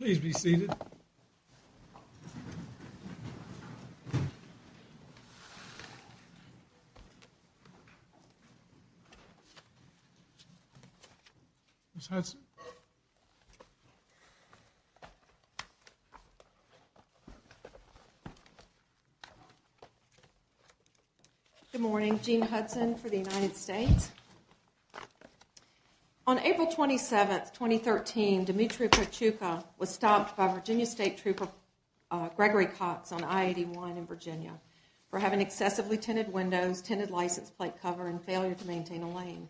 Please be seated. Good morning. Jean Hudson for the United States. On April 27, 2013, Dmytro Patiutka was stopped by Virginia State Trooper Gregory Cox on I-81 in Virginia for having excessively tinted windows, tinted license plate cover, and failure to maintain a lane.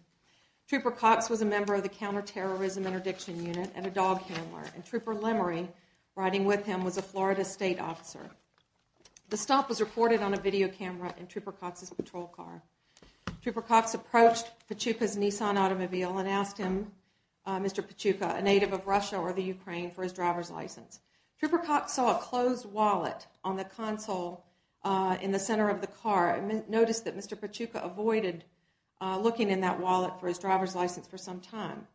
Trooper Cox was a member of the Counterterrorism Interdiction Unit and a dog handler. Trooper Lemery riding with him was a Florida state officer. The stop was recorded on a video camera in Trooper Cox's patrol car. Trooper Cox approached Patiutka's Nissan automobile and asked him, Mr. Patiutka, a native of Russia or the Ukraine, for his driver's license. Trooper Cox saw a closed wallet on the console in the center of the car and noticed that Mr. Patiutka avoided looking in that wallet for his driver's license for some time.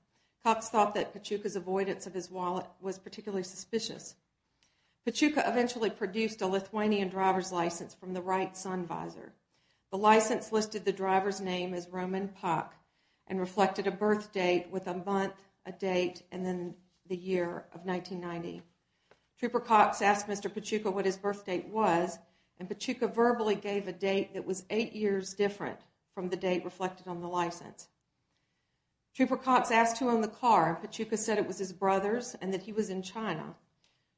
Cox thought that Patiutka's avoidance of his wallet was particularly suspicious. Patiutka eventually produced a Lithuanian driver's license from the right sun visor. The license listed the driver's name as Roman Pak and reflected a birth date with a month, a date, and then the year of 1990. Trooper Cox asked Mr. Patiutka what his birth date was, and Patiutka verbally gave a date that was eight years different from the date reflected on the license. Trooper Cox asked who owned the car, and Patiutka said it was his brother's and that he was in China.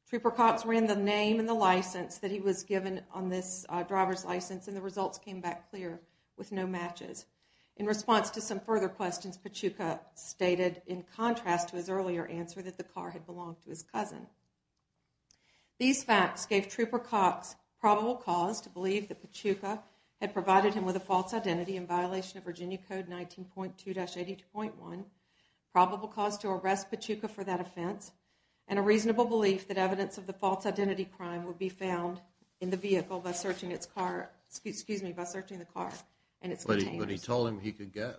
Trooper Cox ran the name and the license that he was given on this driver's license, and the results came back clear with no matches. In response to some further questions, Patiutka stated in contrast to his earlier answer that the car had belonged to his cousin. These facts gave Trooper Cox probable cause to believe that Patiutka had provided him with a false identity in violation of Virginia Code 19.2-82.1, probable cause to arrest Patiutka for that offense, and a reasonable belief that evidence of the false identity crime would be found in the vehicle by searching the car and its containers. But he told him he could go.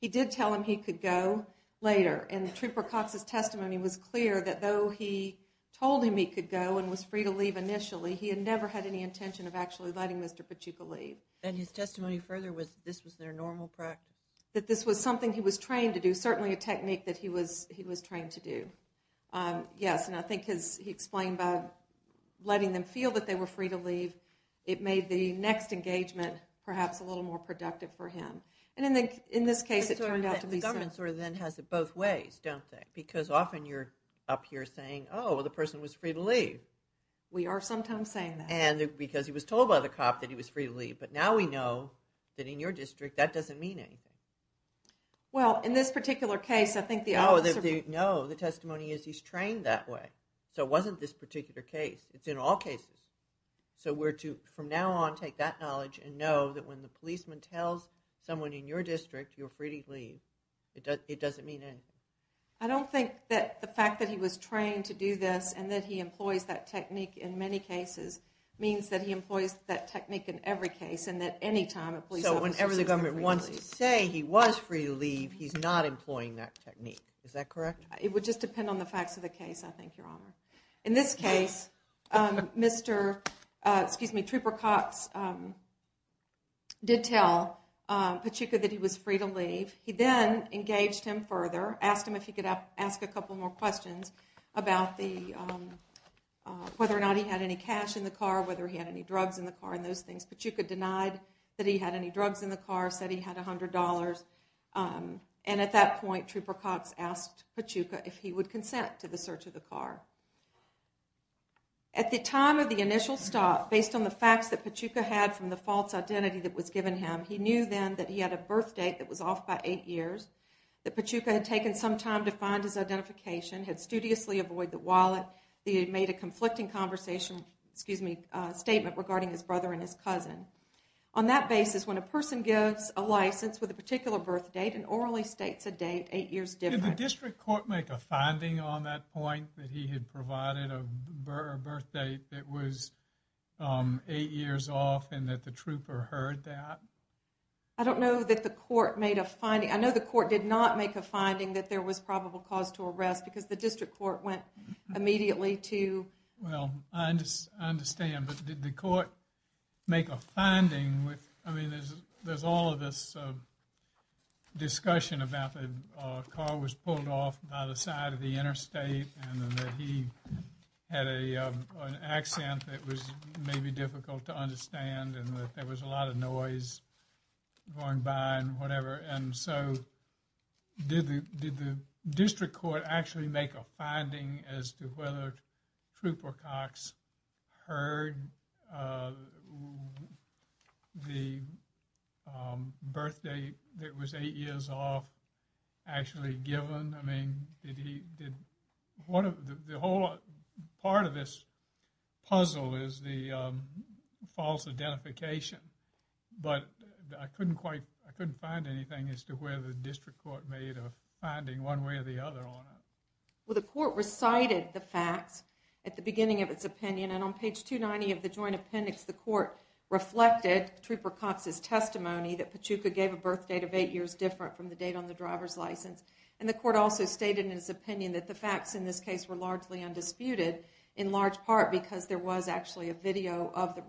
He did tell him he could go later, and Trooper Cox's testimony was clear that though he told him he could go and was free to leave initially, he had never had any intention of actually letting Mr. Patiutka leave. And his testimony further was that this was their normal practice? That this was something he was trained to do, certainly a technique that he was trained to do. Yes, and I think he explained by letting them feel that they were free to leave, it made the next engagement perhaps a little more productive for him. And in this case it turned out to be so. The government sort of then has it both ways, don't they? Because often you're up here saying, oh, the person was free to leave. We are sometimes saying that. And because he was told by the cop that he was free to leave. But now we know that in your district that doesn't mean anything. Well, in this particular case I think the officer... No, the testimony is he's trained that way. So it wasn't this particular case. It's in all cases. So we're to, from now on, take that knowledge and know that when the policeman tells someone in your district you're free to leave, it doesn't mean anything. I don't think that the fact that he was trained to do this and that he employs that technique in many cases means that he employs that technique in every case and that anytime a police officer... So whenever the government wants to say he was free to leave, he's not employing that technique. Is that correct? It would just depend on the facts of the case, I think, Your Honor. In this case, Mr., excuse me, Trooper Cox did tell Pachuca that he was free to leave. He then engaged him further, asked him if he could ask a couple more questions about whether or not he had any cash in the car, whether he had any drugs in the car, and those things. Pachuca denied that he had any drugs in the car, said he had $100. And at that point Trooper Cox asked Pachuca if he would consent to the search of the car. At the time of the initial stop, based on the facts that Pachuca had from the false identity that was given him, he knew then that he had a birth date that was off by eight years, that Pachuca had taken some time to find his identification, had studiously avoided the wallet, that he had made a conflicting conversation, excuse me, statement regarding his brother and his cousin. On that basis, when a person gives a license with a particular birth date and orally states a date eight years different... Did the district court make a finding on that point, that he had provided a birth date that was eight years off and that the trooper heard that? I don't know that the court made a finding. I know the court did not make a finding that there was probable cause to arrest because the district court went immediately to... Well, I understand, but did the court make a finding with... I mean, there's all of this discussion about the car was pulled off by the side of the interstate and that he had an accent that was maybe difficult to understand and that there was a lot of noise going by and whatever. And so, did the district court actually make a finding as to whether Trooper Cox heard the birth date that was eight years off actually given? I mean, did he... The whole part of this puzzle is the false identification, but I couldn't find anything as to whether the district court made a finding one way or the other on it. Well, the court recited the facts at the beginning of its opinion, and on page 290 of the joint appendix, the court reflected Trooper Cox's testimony that Pachuca gave a birth date of eight years different from the date on the driver's license. And the court also stated in its opinion that the facts in this case were largely undisputed in large part because there was actually a video of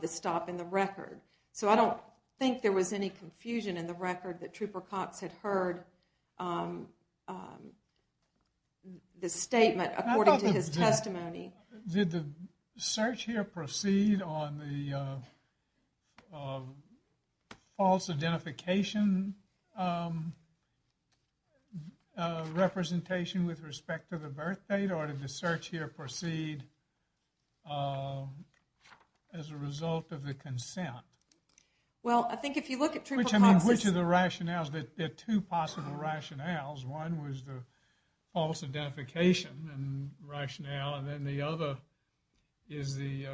the stop in the record. So, I don't think there was any confusion in the record that Trooper Cox had heard the statement according to his testimony. Did the search here proceed on the false identification representation with respect to the birth date, or did the search here proceed as a result of the consent? Well, I think if you look at Trooper Cox's... Which of the rationales... There are two possible rationales. One was the false identification rationale, and then the other is the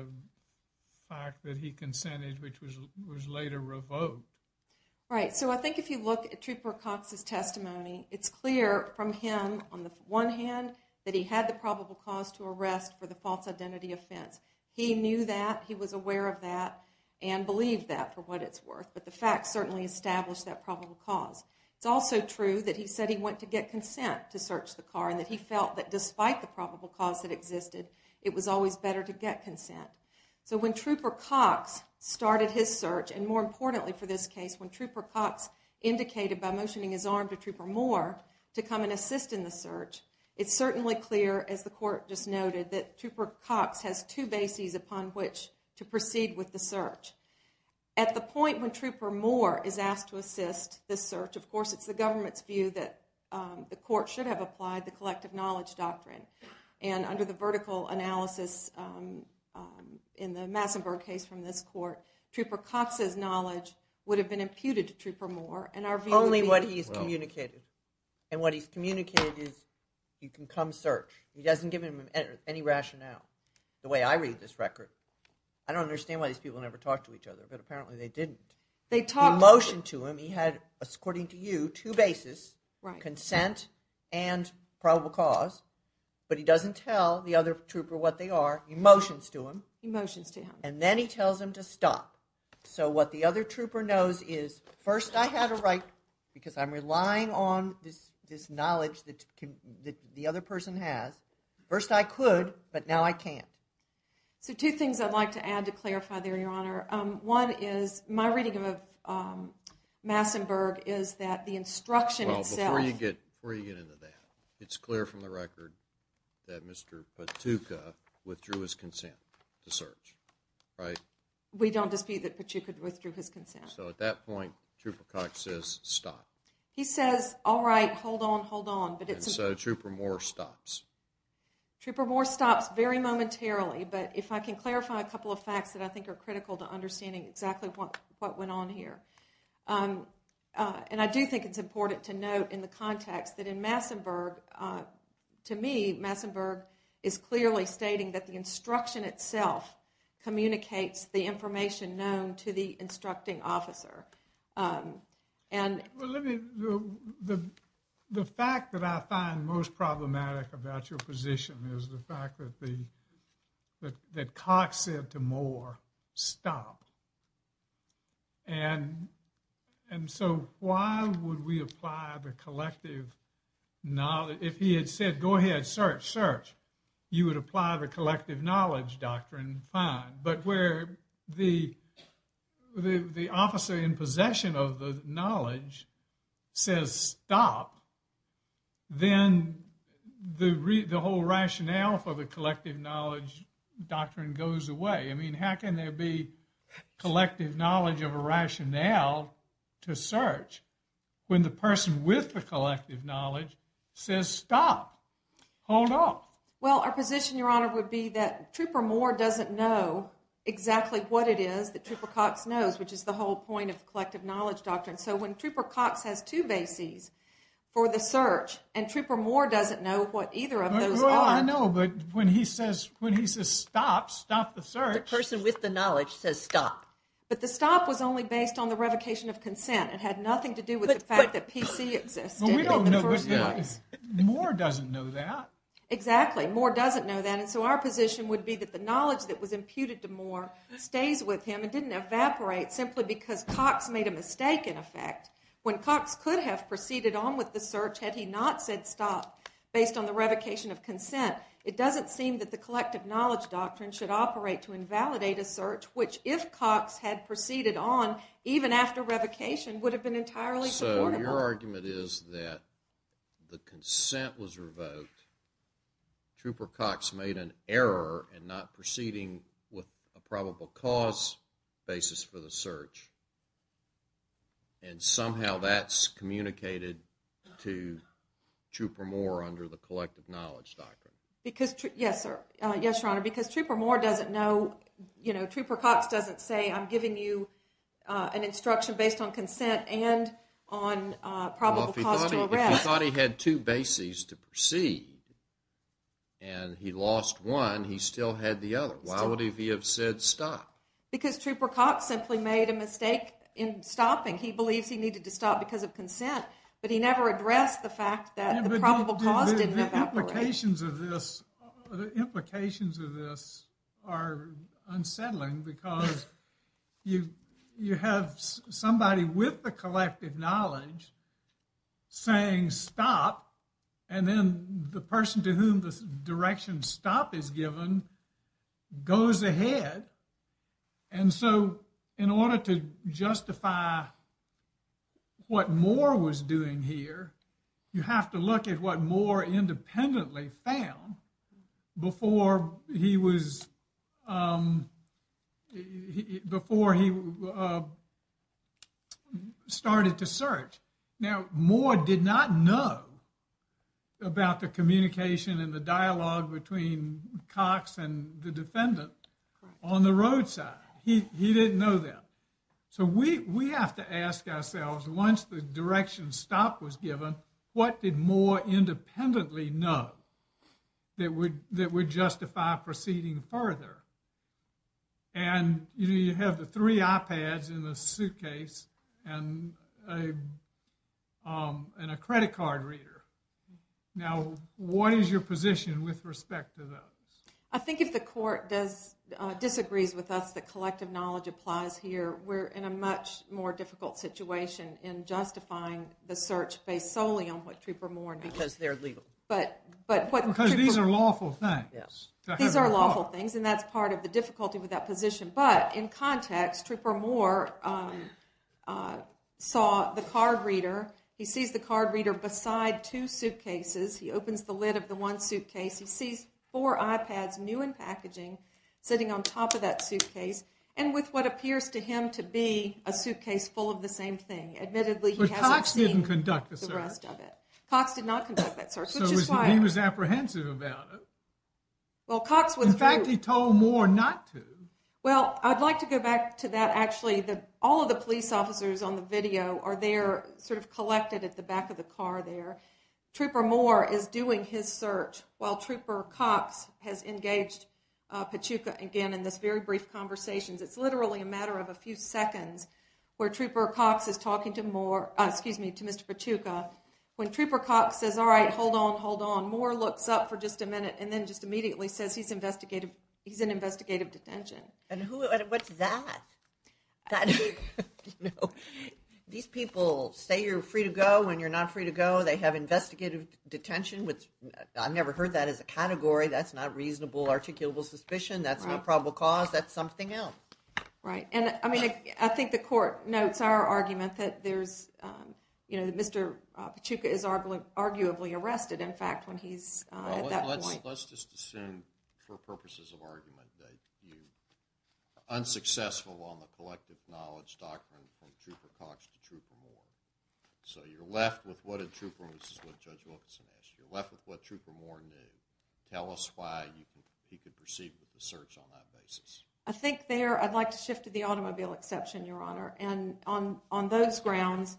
fact that he consented, which was later revoked. Right. So, I think if you look at Trooper Cox, on the one hand, that he had the probable cause to arrest for the false identity offense. He knew that, he was aware of that, and believed that for what it's worth. But the facts certainly established that probable cause. It's also true that he said he went to get consent to search the car, and that he felt that despite the probable cause that existed, it was always better to get consent. So, when Trooper Cox started his search, and more importantly for this case, when Trooper Cox indicated by motioning his arm to Trooper Moore to come and assist in the search, it's certainly clear, as the court just noted, that Trooper Cox has two bases upon which to proceed with the search. At the point when Trooper Moore is asked to assist the search, of course it's the government's view that the court should have applied the collective knowledge doctrine. And under the vertical analysis in the Massenburg case from this court, Trooper Cox's knowledge would have been imputed to Trooper Moore, and our communication is, you can come search. He doesn't give him any rationale. The way I read this record, I don't understand why these people never talk to each other, but apparently they didn't. He motioned to him, he had, according to you, two bases, consent and probable cause, but he doesn't tell the other trooper what they are, he motions to him, and then he tells him to stop. So what the other trooper knows is, first I had a right, because I'm aware of the knowledge that the other person has, first I could, but now I can't. So two things I'd like to add to clarify there, your honor. One is, my reading of Massenburg is that the instruction itself... Well, before you get into that, it's clear from the record that Mr. Pachuca withdrew his consent to search, right? We don't dispute that Pachuca withdrew his consent. So at that point, Trooper Cox says stop. He says, alright, hold on, hold on. And so Trooper Moore stops. Trooper Moore stops very momentarily, but if I can clarify a couple of facts that I think are critical to understanding exactly what went on here. And I do think it's important to note in the context that in Massenburg, to me, Massenburg is clearly stating that the instruction itself communicates the information known to the instructing officer. The fact that I find most problematic about your position is the fact that Cox said to Moore, stop. And so why would we apply the collective knowledge... If he had said, go ahead, search, search, you would apply the collective knowledge doctrine, fine. But where the officer in possession of the knowledge says stop, then the whole rationale for the collective knowledge doctrine goes away. I mean, how can there be collective knowledge of a rationale to search when the person with the collective knowledge says stop, hold on? Well, our position, Your Honor, would be that Trooper Moore doesn't know exactly what it is that Trooper Cox knows, which is the whole point of the collective knowledge doctrine. So when Trooper Cox has two bases for the search and Trooper Moore doesn't know what either of those are... Well, I know, but when he says stop, stop the search... The person with the knowledge says stop. But the stop was only based on the revocation of consent. It had nothing to do with the fact that PC existed in the first place. But we don't know... Moore doesn't know that. Exactly. Moore doesn't know that. And so our position would be that the knowledge that was imputed to Moore stays with him and didn't evaporate simply because Cox made a mistake in effect. When Cox could have proceeded on with the search had he not said stop based on the revocation of consent, it doesn't seem that the collective knowledge doctrine should operate to invalidate a search, which if Cox had proceeded on, even after revocation, would have been entirely supportable. So your argument is that the consent was revoked, Trooper Cox made an error in not proceeding with a probable cause basis for the search, and somehow that's communicated to Trooper Moore under the collective knowledge doctrine. Yes, Your Honor. Because Trooper Cox doesn't say I'm giving you an instruction based on consent and on probable cause to arrest. Well, if he thought he had two bases to proceed and he lost one, he still had the other. Why would he have said stop? Because Trooper Cox simply made a mistake in stopping. He believes he needed to stop because of consent, but he never addressed the fact that the probable cause didn't evaporate. The implications of this are unsettling because you have somebody with the collective knowledge saying stop, and then the person to whom the direction stop is given goes ahead. And so in order to justify what Moore was doing here, you have to look at what Moore independently found before he was, before he started to search. Now, Moore did not know about the So we have to ask ourselves, once the direction stop was given, what did Moore independently know that would justify proceeding further? And you have the three iPads in the suitcase and a credit card reader. Now, what is your position with respect to those? I think if the court disagrees with us that collective knowledge applies here, we're in a much more difficult situation in justifying the search based solely on what Trooper Moore and because they're legal. Because these are lawful things. These are lawful things, and that's part of the difficulty with that position. But in context, Trooper Moore saw the card reader. He sees the card reader beside two suitcases. He opens the lid of the one suitcase. He sees four iPads, new in packaging, sitting on top of that suitcase and with what appears to him to be a suitcase full of the same thing. Admittedly, he hasn't seen the rest of it. But Cox didn't conduct the search. Cox did not conduct that search. So he was apprehensive about it. In fact, he told Moore not to. Well, I'd like to go back to that. Actually, all of the police officers on the video are there sort of collected at the back of the car there. Trooper Moore is doing his search while Trooper Cox has engaged Pachuca again in this very brief conversation. It's literally a matter of a few seconds where Trooper Cox is talking to Mr. Pachuca. When Trooper Cox says, all right, hold on, hold on, Moore looks up for just a minute and then just immediately says he's in investigative detention. And what's that? These people say you're free to go when you're not free to go. They have investigative detention, which I've never heard that as a category. That's not reasonable, articulable suspicion. That's not probable cause. That's something else. Right. And I mean, I think the court notes our argument that there's, you know, Mr. Pachuca is arguably arrested, in fact, when he's at that point. Let's just assume for purposes of argument that you're unsuccessful on the collective knowledge doctrine from Trooper Cox to Trooper Moore. So you're left with what a trooper, and this is what Judge Wilkinson asked, you're left with what Trooper Moore knew. Tell us why he could proceed with the search on that basis. I think there, I'd like to shift to the automobile exception, Your Honor. And on those grounds,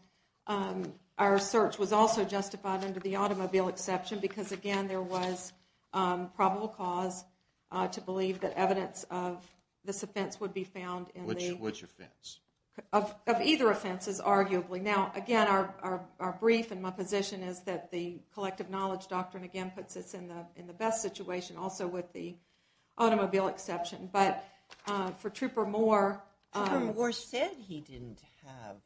our search was also justified under the automobile exception because, again, there was probable cause to believe that evidence of this offense would be found in the- Which offense? Of either offenses, arguably. Now, again, our brief and my position is that the collective knowledge doctrine, again, puts us in the best situation, also with the automobile exception. But for Trooper Moore- Trooper Moore said he didn't have-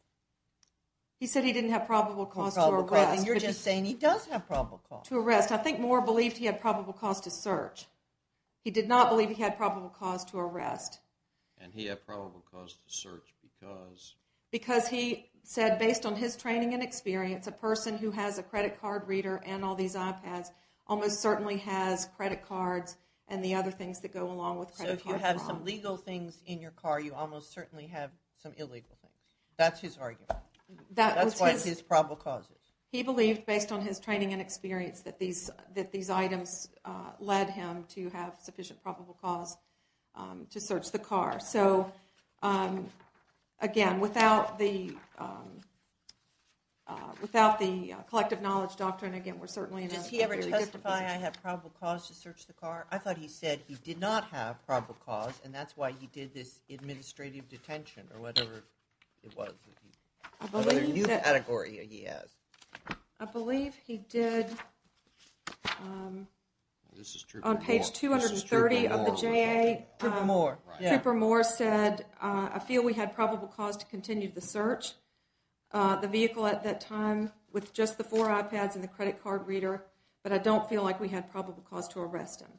He said he didn't have probable cause to arrest. And you're just saying he does have probable cause. To arrest. I think Moore believed he had probable cause to search. He did not believe he had probable cause to arrest. And he had probable cause to search because- Because he said, based on his training and experience, a person who has a credit card reader and all these iPads almost certainly has credit cards and the other things that go along with credit card fraud. So if you have some legal things in your car, you almost certainly have some illegal things. That's his argument. That's why his probable cause is. He believed, based on his training and experience, that these items led him to have sufficient probable cause to search the car. So, again, without the collective knowledge doctrine, again, we're certainly in a- Does he ever testify, I have probable cause to search the car? I thought he said he did not have probable cause, and that's why he did this administrative detention or whatever it was. I believe he did. On page 230 of the JA, Trooper Moore said, I feel we had probable cause to continue the search, the vehicle at that time with just the four iPads and the credit card reader, but I don't feel like we had probable cause to arrest him.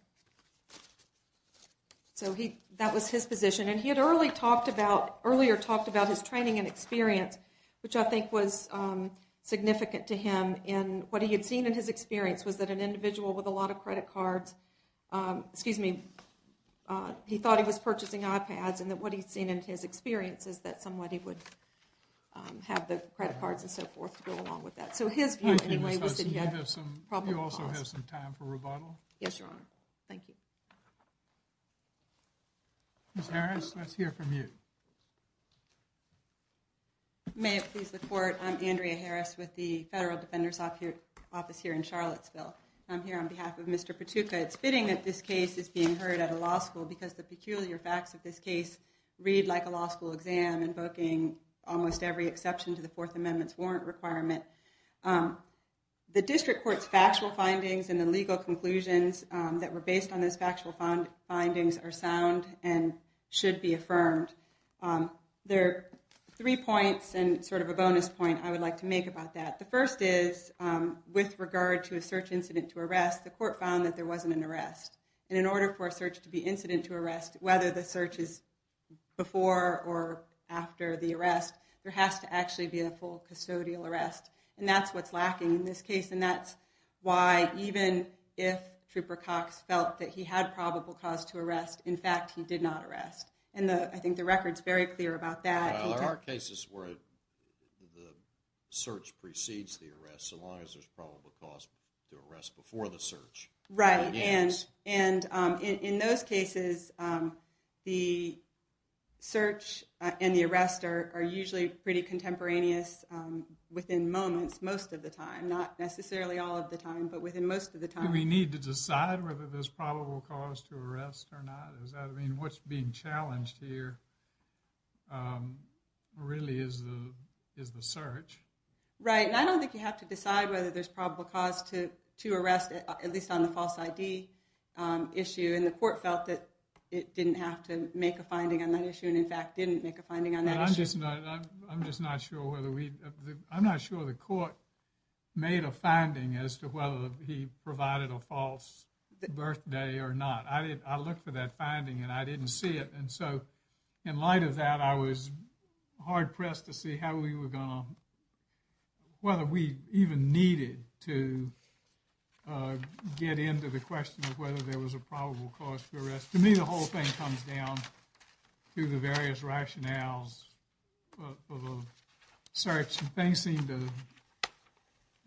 So that was his position. And he had earlier talked about his training and experience, which I think was significant to him in what he had seen in his experience was that an individual with a lot of credit cards- excuse me, he thought he was purchasing iPads, and that what he'd seen in his experience is that somebody would have the credit cards and so forth to go along with that. So his view, anyway, was that he had probable cause. You also have some time for rebuttal? Yes, Your Honor. Thank you. Ms. Harris, let's hear from you. May it please the Court, I'm Andrea Harris with the Federal Defender's Office here in Charlottesville. I'm here on behalf of Mr. Patuka. It's fitting that this case is being heard at a law school because the peculiar facts of this case read like a law school exam, invoking almost every exception to the Fourth Amendment's warrant requirement. The District Court's factual findings and the legal conclusions that were based on those factual findings are sound and should be affirmed. There are three points and sort of a bonus point I would like to make about that. The first is, with regard to a search incident to arrest, the Court found that there wasn't an arrest. And in order for a search to be incident to arrest, whether the search is before or after the arrest, there has to actually be a full custodial arrest. And that's what's lacking in this case, and that's why even if Trooper Cox felt that he had probable cause to arrest, in fact, he did not arrest. And I think the record's very clear about that. There are cases where the search precedes the arrest, so long as there's probable cause to arrest before the search. Right. And in those cases, the search and the arrest are usually pretty contemporaneous within moments most of the time, not necessarily all of the time, but within most of the time. Do we need to decide whether there's probable cause to arrest or not? What's being challenged here really is the search. Right, and I don't think you have to decide whether there's probable cause to arrest, at least on the false ID issue. And the court felt that it didn't have to make a finding on that issue and, in fact, didn't make a finding on that issue. I'm just not sure whether we – I'm not sure the court made a finding as to whether he provided a false birthday or not. I looked for that finding and I didn't see it. And so in light of that, I was hard-pressed to see how we were going to – get into the question of whether there was a probable cause to arrest. To me, the whole thing comes down to the various rationales for the search. Things seem to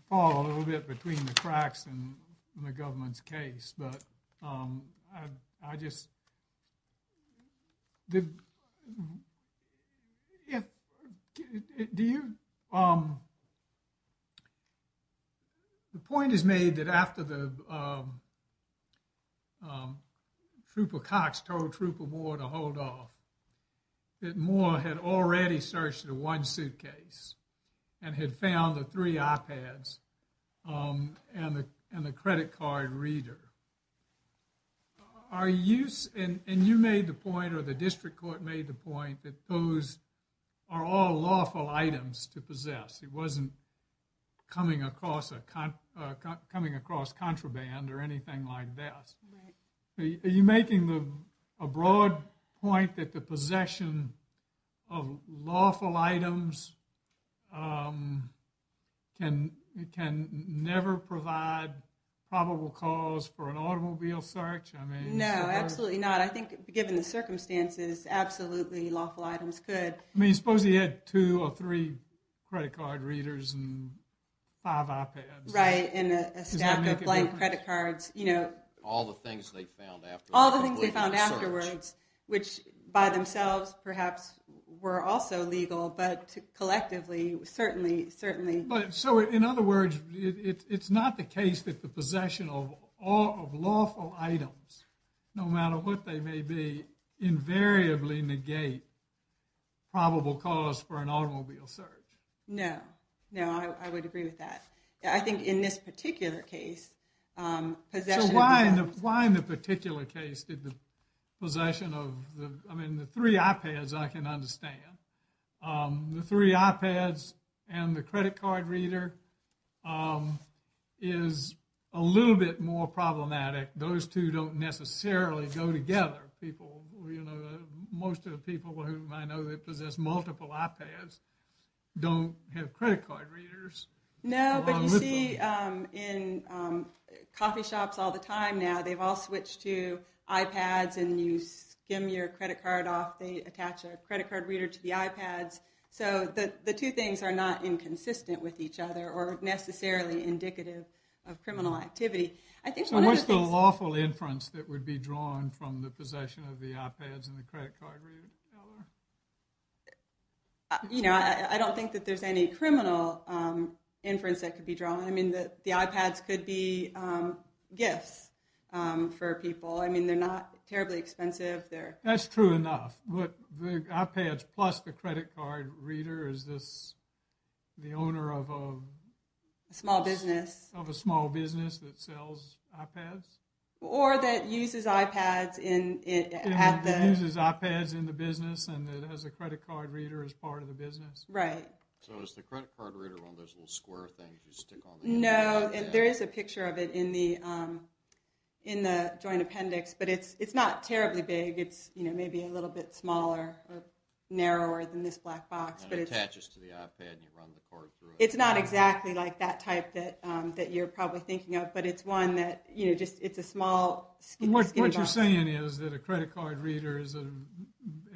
fall a little bit between the cracks in the government's case, but I just – the point is made that after Trooper Cox told Trooper Moore to hold off, that Moore had already searched the one suitcase and had found the three iPads and the credit card reader. Are you – and you made the point or the district court made the point that those are all lawful items to possess. It wasn't coming across contraband or anything like that. Are you making a broad point that the possession of lawful items can never provide probable cause for an automobile search? No, absolutely not. I think given the circumstances, absolutely lawful items could. I mean, suppose he had two or three credit card readers and five iPads. Right, and a stack of blank credit cards. All the things they found afterwards. All the things they found afterwards, which by themselves perhaps were also legal, but collectively certainly – So in other words, it's not the case that the possession of lawful items, no matter what they may be, invariably negate probable cause for an automobile search. No, no, I would agree with that. I think in this particular case – So why in the particular case did the possession of – I mean, the three iPads I can understand. The three iPads and the credit card reader is a little bit more problematic. Those two don't necessarily go together. Most of the people whom I know that possess multiple iPads don't have credit card readers. No, but you see in coffee shops all the time now, they've all switched to iPads and you skim your credit card off. They attach a credit card reader to the iPads. So the two things are not inconsistent with each other or necessarily indicative of criminal activity. So what's the lawful inference that would be drawn from the possession of the iPads and the credit card reader? You know, I don't think that there's any criminal inference that could be drawn. I mean, the iPads could be gifts for people. I mean, they're not terribly expensive. That's true enough. But the iPads plus the credit card reader, is this the owner of a – A small business. Of a small business that sells iPads? Or that uses iPads at the – That uses iPads in the business and has a credit card reader as part of the business? Right. So is the credit card reader one of those little square things you stick on the – No, there is a picture of it in the joint appendix, but it's not terribly big. It's maybe a little bit smaller or narrower than this black box. It attaches to the iPad and you run the card through it. It's not exactly like that type that you're probably thinking of, but it's one that, you know, it's a small skim box. What you're saying is that a credit card reader is an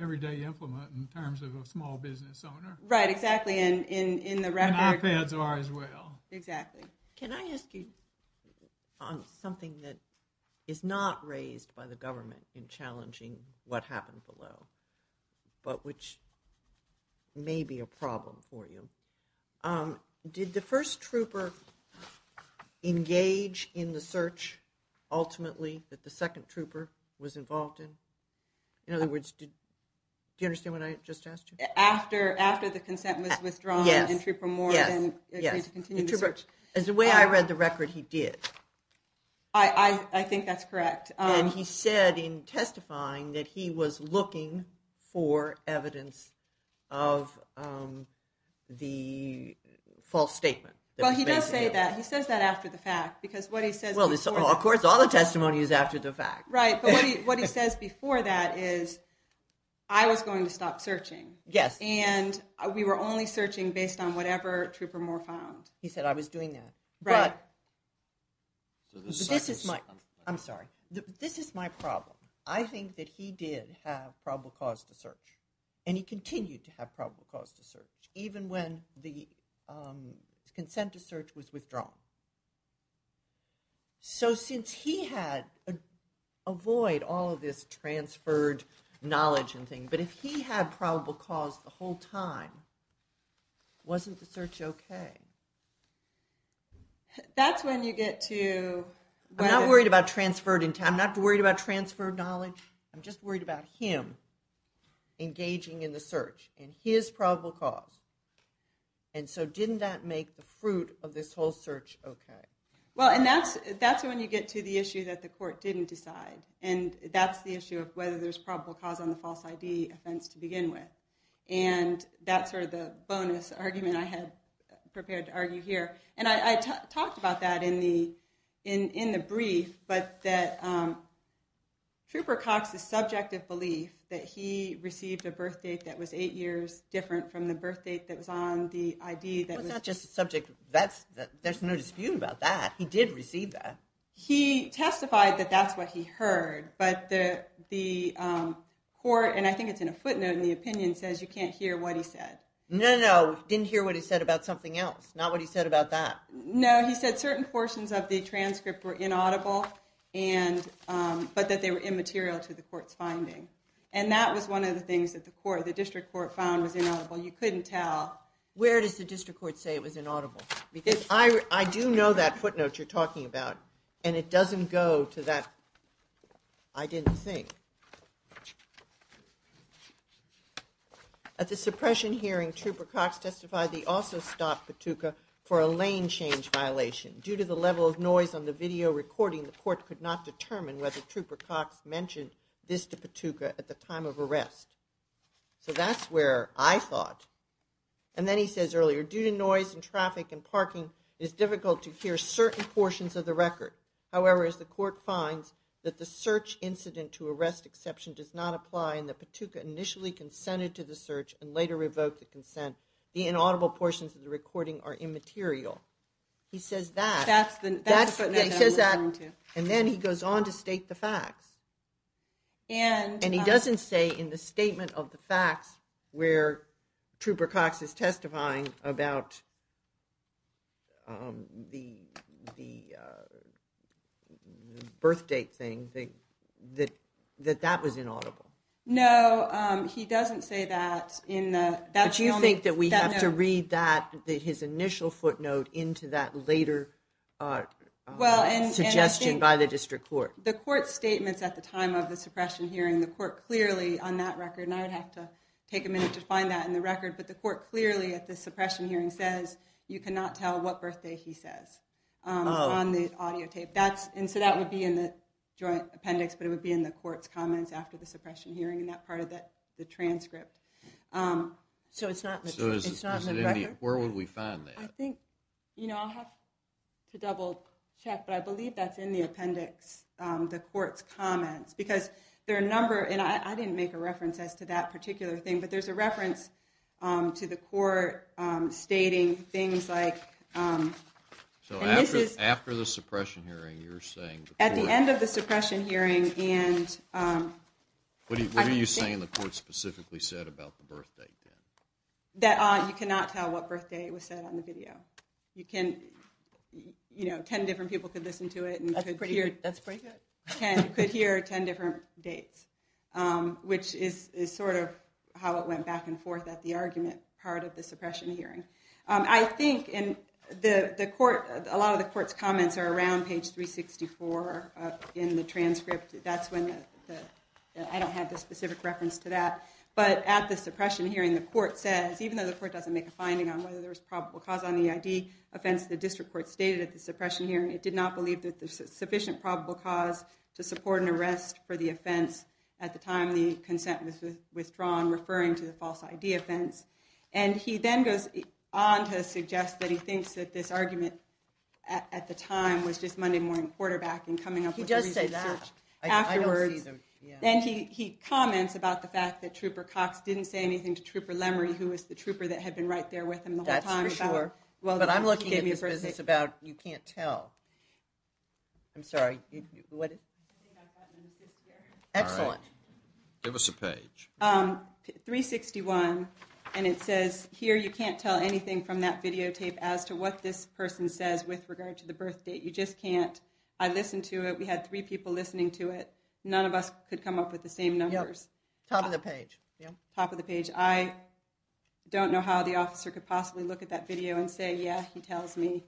everyday implement in terms of a small business owner. Right, exactly, and in the record – And iPads are as well. Exactly. Can I ask you on something that is not raised by the government in challenging what happened below, but which may be a problem for you. Did the first trooper engage in the search ultimately that the second trooper was involved in? In other words, do you understand what I just asked you? After the consent was withdrawn, did the trooper more than agree to continue the search? Yes, yes. As the way I read the record, he did. I think that's correct. And he said in testifying that he was looking for evidence of the false statement. Well, he does say that. He says that after the fact because what he says before that – Well, of course, all the testimony is after the fact. Right, but what he says before that is, I was going to stop searching. Yes. And we were only searching based on whatever Trooper Moore found. He said, I was doing that. Right. This is my – I'm sorry. This is my problem. I think that he did have probable cause to search, and he continued to have probable cause to search, even when the consent to search was withdrawn. So since he had – avoid all of this transferred knowledge and things, but if he had probable cause the whole time, wasn't the search okay? That's when you get to whether – I'm not worried about transferred in time. I'm not worried about transferred knowledge. I'm just worried about him engaging in the search and his probable cause. And so didn't that make the fruit of this whole search okay? Well, and that's when you get to the issue that the court didn't decide, and that's the issue of whether there's probable cause on the false ID offense to begin with. And that's sort of the bonus argument I had prepared to argue here. And I talked about that in the brief, but that Trooper Cox's subjective belief that he received a birth date that was eight years different from the birth date that was on the ID that was – Well, it's not just a subject – there's no dispute about that. He did receive that. He testified that that's what he heard, but the court – You can't hear what he said. No, no. He didn't hear what he said about something else, not what he said about that. No. He said certain portions of the transcript were inaudible, but that they were immaterial to the court's finding. And that was one of the things that the district court found was inaudible. You couldn't tell. Where does the district court say it was inaudible? Because I do know that footnote you're talking about, and it doesn't go to that I didn't think. At the suppression hearing, Trooper Cox testified he also stopped Patuka for a lane change violation. Due to the level of noise on the video recording, the court could not determine whether Trooper Cox mentioned this to Patuka at the time of arrest. So that's where I thought. And then he says earlier, due to noise and traffic and parking, it is difficult to hear certain portions of the record. However, as the court finds that the search incident to arrest exception does not apply and that Patuka initially consented to the search and later revoked the consent, the inaudible portions of the recording are immaterial. He says that. That's the footnote that we're going to. And then he goes on to state the facts. And he doesn't say in the statement of the facts where Trooper Cox is testifying about. Um, the, the, uh. Birthdate thing that that that that was inaudible. No, he doesn't say that in that. Do you think that we have to read that that his initial footnote into that later? Well, and suggestion by the district court, the court statements at the time of the suppression hearing, the court clearly on that record, and I would have to take a minute to find that in the record, but the court clearly at the suppression hearing says, you cannot tell what birthday he says. Um, on the audio tape that's. And so that would be in the joint appendix, but it would be in the court's comments after the suppression hearing and that part of that, the transcript. Um, so it's not, it's not in the record. Where would we find that? I think, you know, I'll have to double check, but I believe that's in the appendix, um, the court's comments because there are a number and I, I didn't make a reference as to that particular thing, but there's a reference, um, to the court, um, stating things like, um. So after, after the suppression hearing, you're saying. At the end of the suppression hearing. And, um. What are you saying the court specifically said about the birthday? That, uh, you cannot tell what birthday was said on the video. You can, you know, 10 different people could listen to it. That's pretty good. You could hear 10 different dates, um, which is sort of how it went back and forth at the argument part of the suppression hearing. Um, I think in the court, a lot of the court's comments are around page 364 in the transcript. That's when the, I don't have the specific reference to that, but at the suppression hearing, the court says, even though the court doesn't make a finding on whether there was probable cause on the ID offense, the district court stated at the suppression hearing, it did not believe that there's sufficient probable cause to support an arrest for the offense. At the time the consent was withdrawn, referring to the false ID offense. And he then goes on to suggest that he thinks that this argument. At the time was just Monday morning quarterback and coming up. He does say that afterwards. And he, he comments about the fact that trooper Cox didn't say anything to trooper Lemery, who was the trooper that had been right there with him. That's for sure. Well, but I'm looking at me versus it's about, you can't tell I'm sorry. Excellent. Give us a page. Um, three 61. And it says here, you can't tell anything from that videotape as to what this person says with regard to the birth date. You just can't. I listened to it. We had three people listening to it. None of us could come up with the same numbers. Top of the page. Yeah. Top of the page. I don't know how the officer could possibly look at that video and say, yeah, he tells me.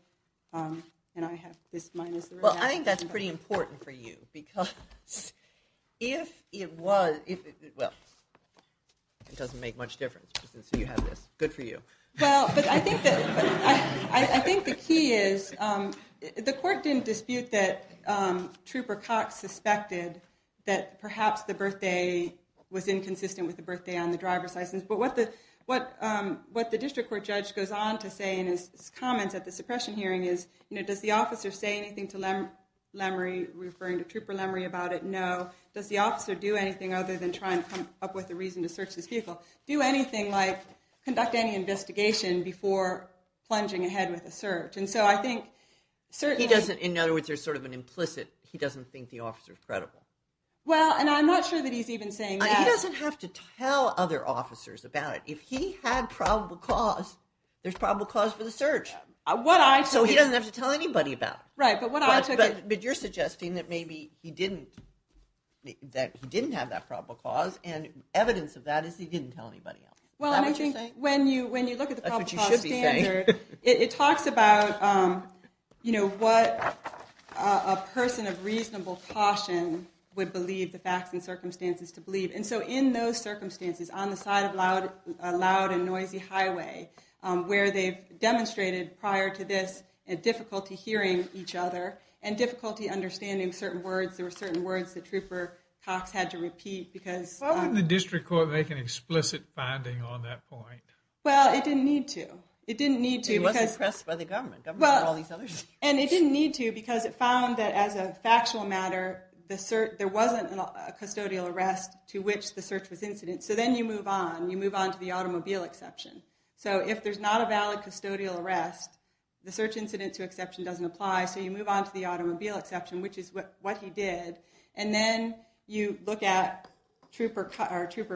Um, and I have this minus. Well, I think that's pretty important for you because if it was, if it, well, it doesn't make much difference. So you have this good for you. Well, but I think that I think the key is, um, the court didn't dispute that, um, trooper Cox suspected that perhaps the birthday was inconsistent with the birthday on the driver's license. But what the, what, um, what the district court judge goes on to say in his comments at the suppression hearing is, you know, does the officer say anything to them? Memory referring to trooper memory about it? No. Does the officer do anything other than try and come up with a reason to search this vehicle, do anything like conduct any investigation before plunging ahead with a search. And so I think certainly he doesn't, in other words, there's sort of an implicit, he doesn't think the officer is credible. Well, and I'm not sure that he's even saying that he doesn't have to tell other officers about it. If he had probable cause, there's probable cause for the search. So he doesn't have to tell anybody about it. Right. But what I took, but you're suggesting that maybe he didn't, that he didn't have that probable cause and evidence of that is he didn't tell anybody else. Well, when you, when you look at the problem, it talks about, um, you know, what, uh, a person of reasonable caution would believe the facts and circumstances to believe. And so in those circumstances on the side of loud, loud and noisy highway, um, where they've demonstrated prior to this and difficulty hearing each other and difficulty understanding certain words, there were certain words that trooper Cox had to repeat because the district court make an explicit finding on that point. Well, it didn't need to, it didn't need to press by the government. Well, and it didn't need to, because it found that as a factual matter, the cert, there wasn't a custodial arrest to which the search was incident. So then you move on, you move on to the automobile exception. So if there's not a valid custodial arrest, the search incident to exception doesn't apply. So you move on to the automobile exception, which is what, what he did. And then you look at trooper car trooper,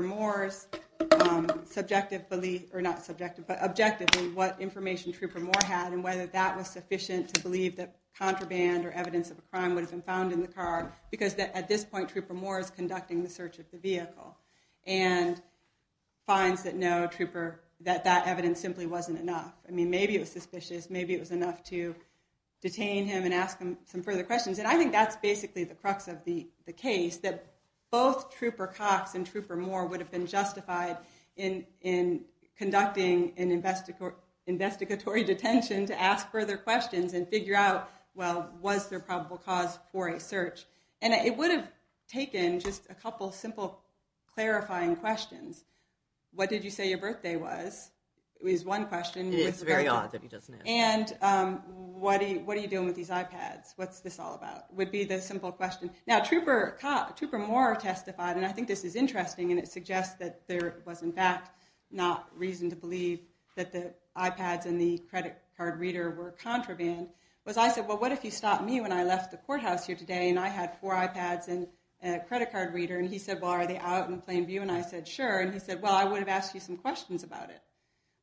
um, subjectively or not subjective, but objectively what information trooper more had and whether that was sufficient to believe that contraband or evidence of a crime would have been found in the car, because at this point trooper more is conducting the search of the vehicle and finds that no trooper, that that evidence simply wasn't enough. I mean, maybe it was suspicious, maybe it was enough to detain him and ask him some further questions. And I think that's basically the crux of the case that both trooper Cox and trooper more would have been justified in, in conducting an investigator, investigatory detention to ask further questions and figure out, well, was there probable cause for a search? And it would have taken just a couple of simple clarifying questions. What did you say your birthday was? It was one question. It's very odd. And, um, what do you, what are you doing with these iPads? What's this all about? Would be the simple question. Now trooper cop trooper more testified. And I think this is interesting and it suggests that there was in fact not reason to believe that the iPads and the credit card reader were contraband was I said, well, what if you stopped me when I left the courthouse here today? And I had four iPads and a credit card reader. And he said, why are they out in plain view? And I said, sure. And he said, well, I would have asked you some questions about it,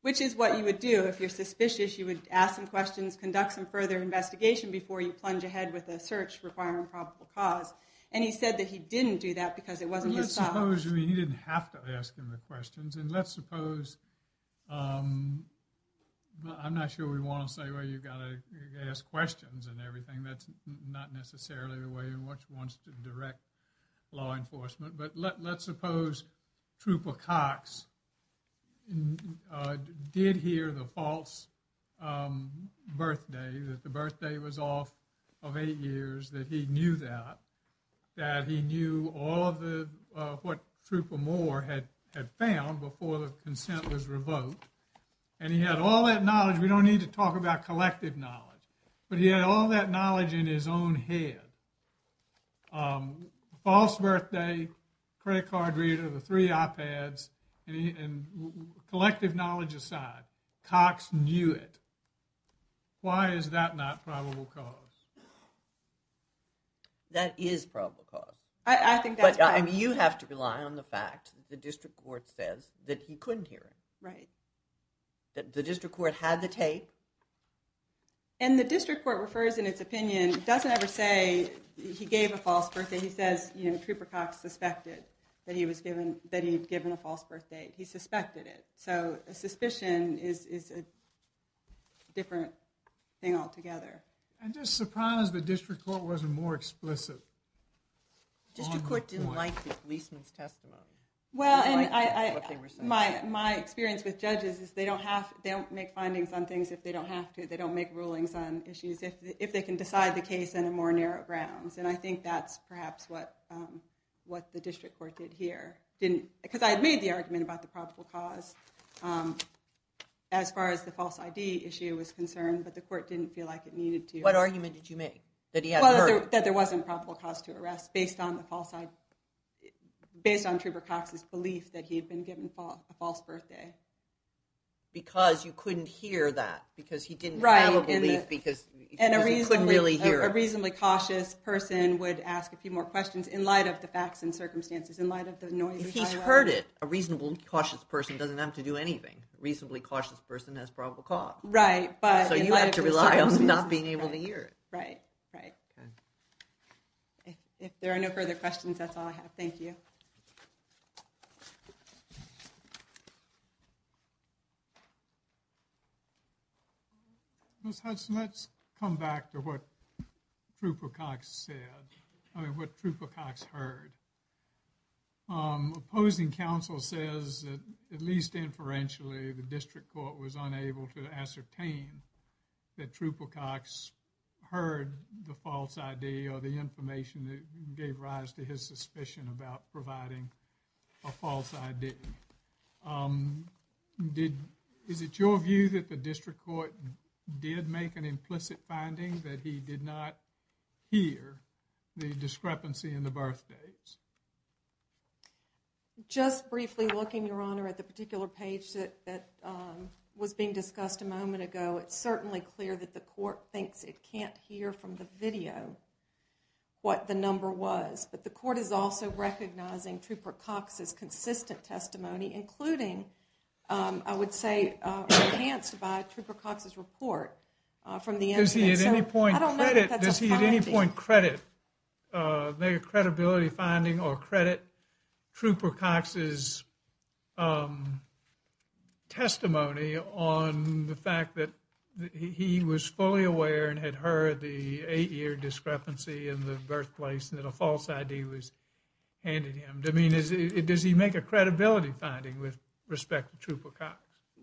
which is what you would do. If you're suspicious, you would ask some questions, conduct some further investigation before you plunge ahead with a search requiring probable cause. And he said that he didn't do that because it wasn't, you didn't have to ask him the questions. And let's suppose, um, I'm not sure we want to say, well, you've got to ask questions and everything. That's not necessarily the way in which wants to direct law enforcement, but let, let's suppose trooper Cox, uh, did hear the false, um, birthday that the birthday was off of eight years, that he knew that, that he knew all of the, uh, what trooper Moore had had found before the consent was revoked. And he had all that knowledge. We don't need to talk about collective knowledge, but he had all that knowledge in his own head. Um, false birthday, credit card reader, the three iPads, and he, and collective knowledge aside, Cox knew it. Why is that not probable cause? That is probable cause. I think that's, I mean, you have to rely on the fact that the district court says that he couldn't hear it, right? That the district court had the tape. And the district court refers in its opinion, doesn't ever say he gave a false birthday. He says, you know, trooper Cox suspected that he was given, that he'd given a false birthday. He suspected it. So a suspicion is, is a different thing altogether. I'm just surprised the district court wasn't more explicit. District court didn't like the policeman's testimony. Well, and I, I, my, my experience with judges is they don't have, they don't make findings on things if they don't have to, they don't make rulings on issues if, if they can decide the case in a more narrow grounds. And I think that's perhaps what, um, what the district court did here didn't, because I had made the argument about the probable cause, um, as far as the false ID issue was concerned, but the court didn't feel like it needed to. What argument did you make that he had heard that there wasn't probable cause to arrest based on the false side, based on trooper Cox's belief that he had been given a false birthday. Because you couldn't hear that because he didn't have a belief because he couldn't really hear a reasonably cautious person would ask a few more questions in light of the facts and circumstances in light of the noise. If he's heard it, a reasonable cautious person doesn't have to do anything. Reasonably cautious person has probable cause. Right. But you have to rely on not being able to hear it. Right. Right. Okay. If there are no further questions, that's all I have. Thank you. Let's have some, let's come back to what Trupo Cox said. I mean, what Trupo Cox heard. Opposing counsel says that at least inferentially, the district court was unable to ascertain that Trupo Cox heard the false ID or the information that gave rise to his suspicion about providing a false ID. Did, is it your view that the district court did make an implicit finding that he did not hear the discrepancy in the birthday? Just briefly looking your honor at the particular page that, that, um, was being discussed a moment ago. It's certainly clear that the court thinks it can't hear from the video, what the number was, but the court is also recognizing Truper Cox's consistent testimony, including, um, I would say, uh, enhanced by Truper Cox's report, uh, from the incident. Does he at any point credit, does he at any point credit, uh, does he make a credibility finding or credit Truper Cox's, um, testimony on the fact that he was fully aware and had heard the eight year discrepancy in the birthplace and that a false ID was handed him? I mean, is it, does he make a credibility finding with respect to Truper Cox?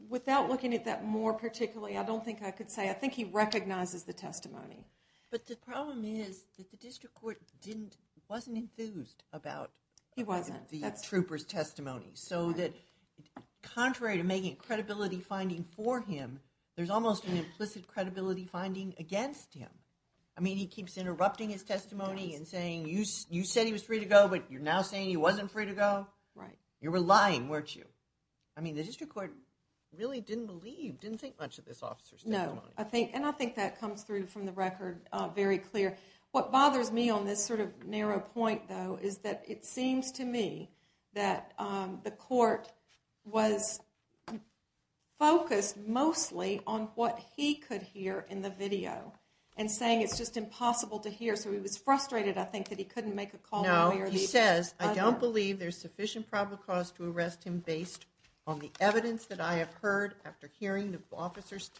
Without looking at that more particularly, I don't think I could say, I think he recognizes the testimony. But the problem is that the district court didn't, wasn't enthused about, he wasn't the troopers testimony. So that contrary to making credibility finding for him, there's almost an implicit credibility finding against him. I mean, he keeps interrupting his testimony and saying, you, you said he was free to go, but you're now saying he wasn't free to go. Right. You were lying, weren't you? I mean, the district court really didn't believe, didn't think much of this officer. No, I think, and I think that comes through from the record. Very clear. What bothers me on this sort of narrow point though, is that it seems to me that, um, the court was focused mostly on what he could hear in the video and saying, it's just impossible to hear. So he was frustrated. I think that he couldn't make a call. He says, I don't believe there's sufficient probable cause to arrest him based on the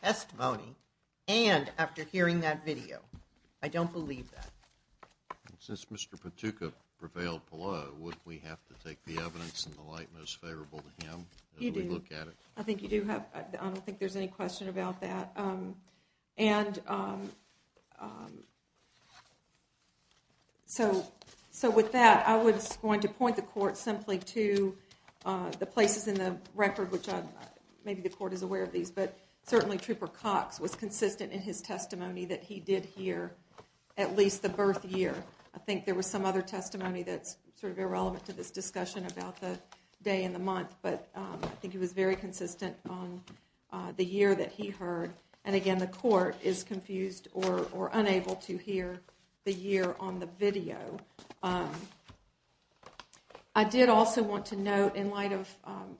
testimony and after hearing that video, I don't believe that. Since Mr. Patuka prevailed below, would we have to take the evidence in the light most favorable to him? You do. I think you do have, I don't think there's any question about that. Um, and, um, um, so, so with that, I was going to point the court simply to, uh, the places in the record, which I, maybe the court is aware of these, but certainly Trooper Cox was consistent in his testimony that he did hear at least the birth year. I think there was some other testimony that's sort of irrelevant to this discussion about the day in the month, but, um, I think he was very consistent on, uh, the year that he heard. And again, the court is confused or, or unable to hear the year on the video. Um, I did also want to note in light of, um,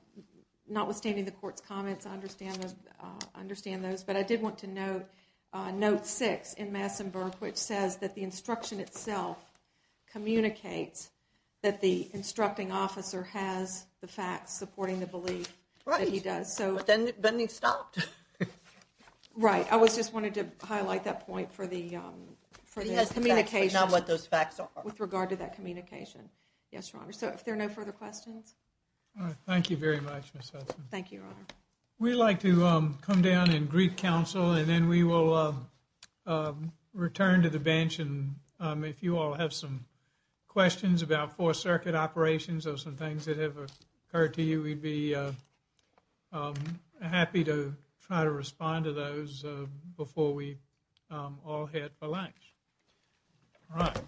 not withstanding the court's comments, I understand those, uh, understand those, but I did want to note, uh, note six in Massenburg, which says that the instruction itself communicates that the instructing officer has the facts supporting the belief that he does. So, but then he stopped, right? I was just wanting to highlight that point for the, um, for the communication, not what those facts are with regard to that communication. Yes, your honor. So if there are no further questions. All right. Thank you very much. Thank you. Your honor. We like to, um, come down and greet council and then we will, uh, um, return to the bench. And, um, if you all have some questions about four circuit operations or some things that have occurred to you, we'd be, uh, um, happy to try to respond to those, uh, before we, um, all head for lunch. Right.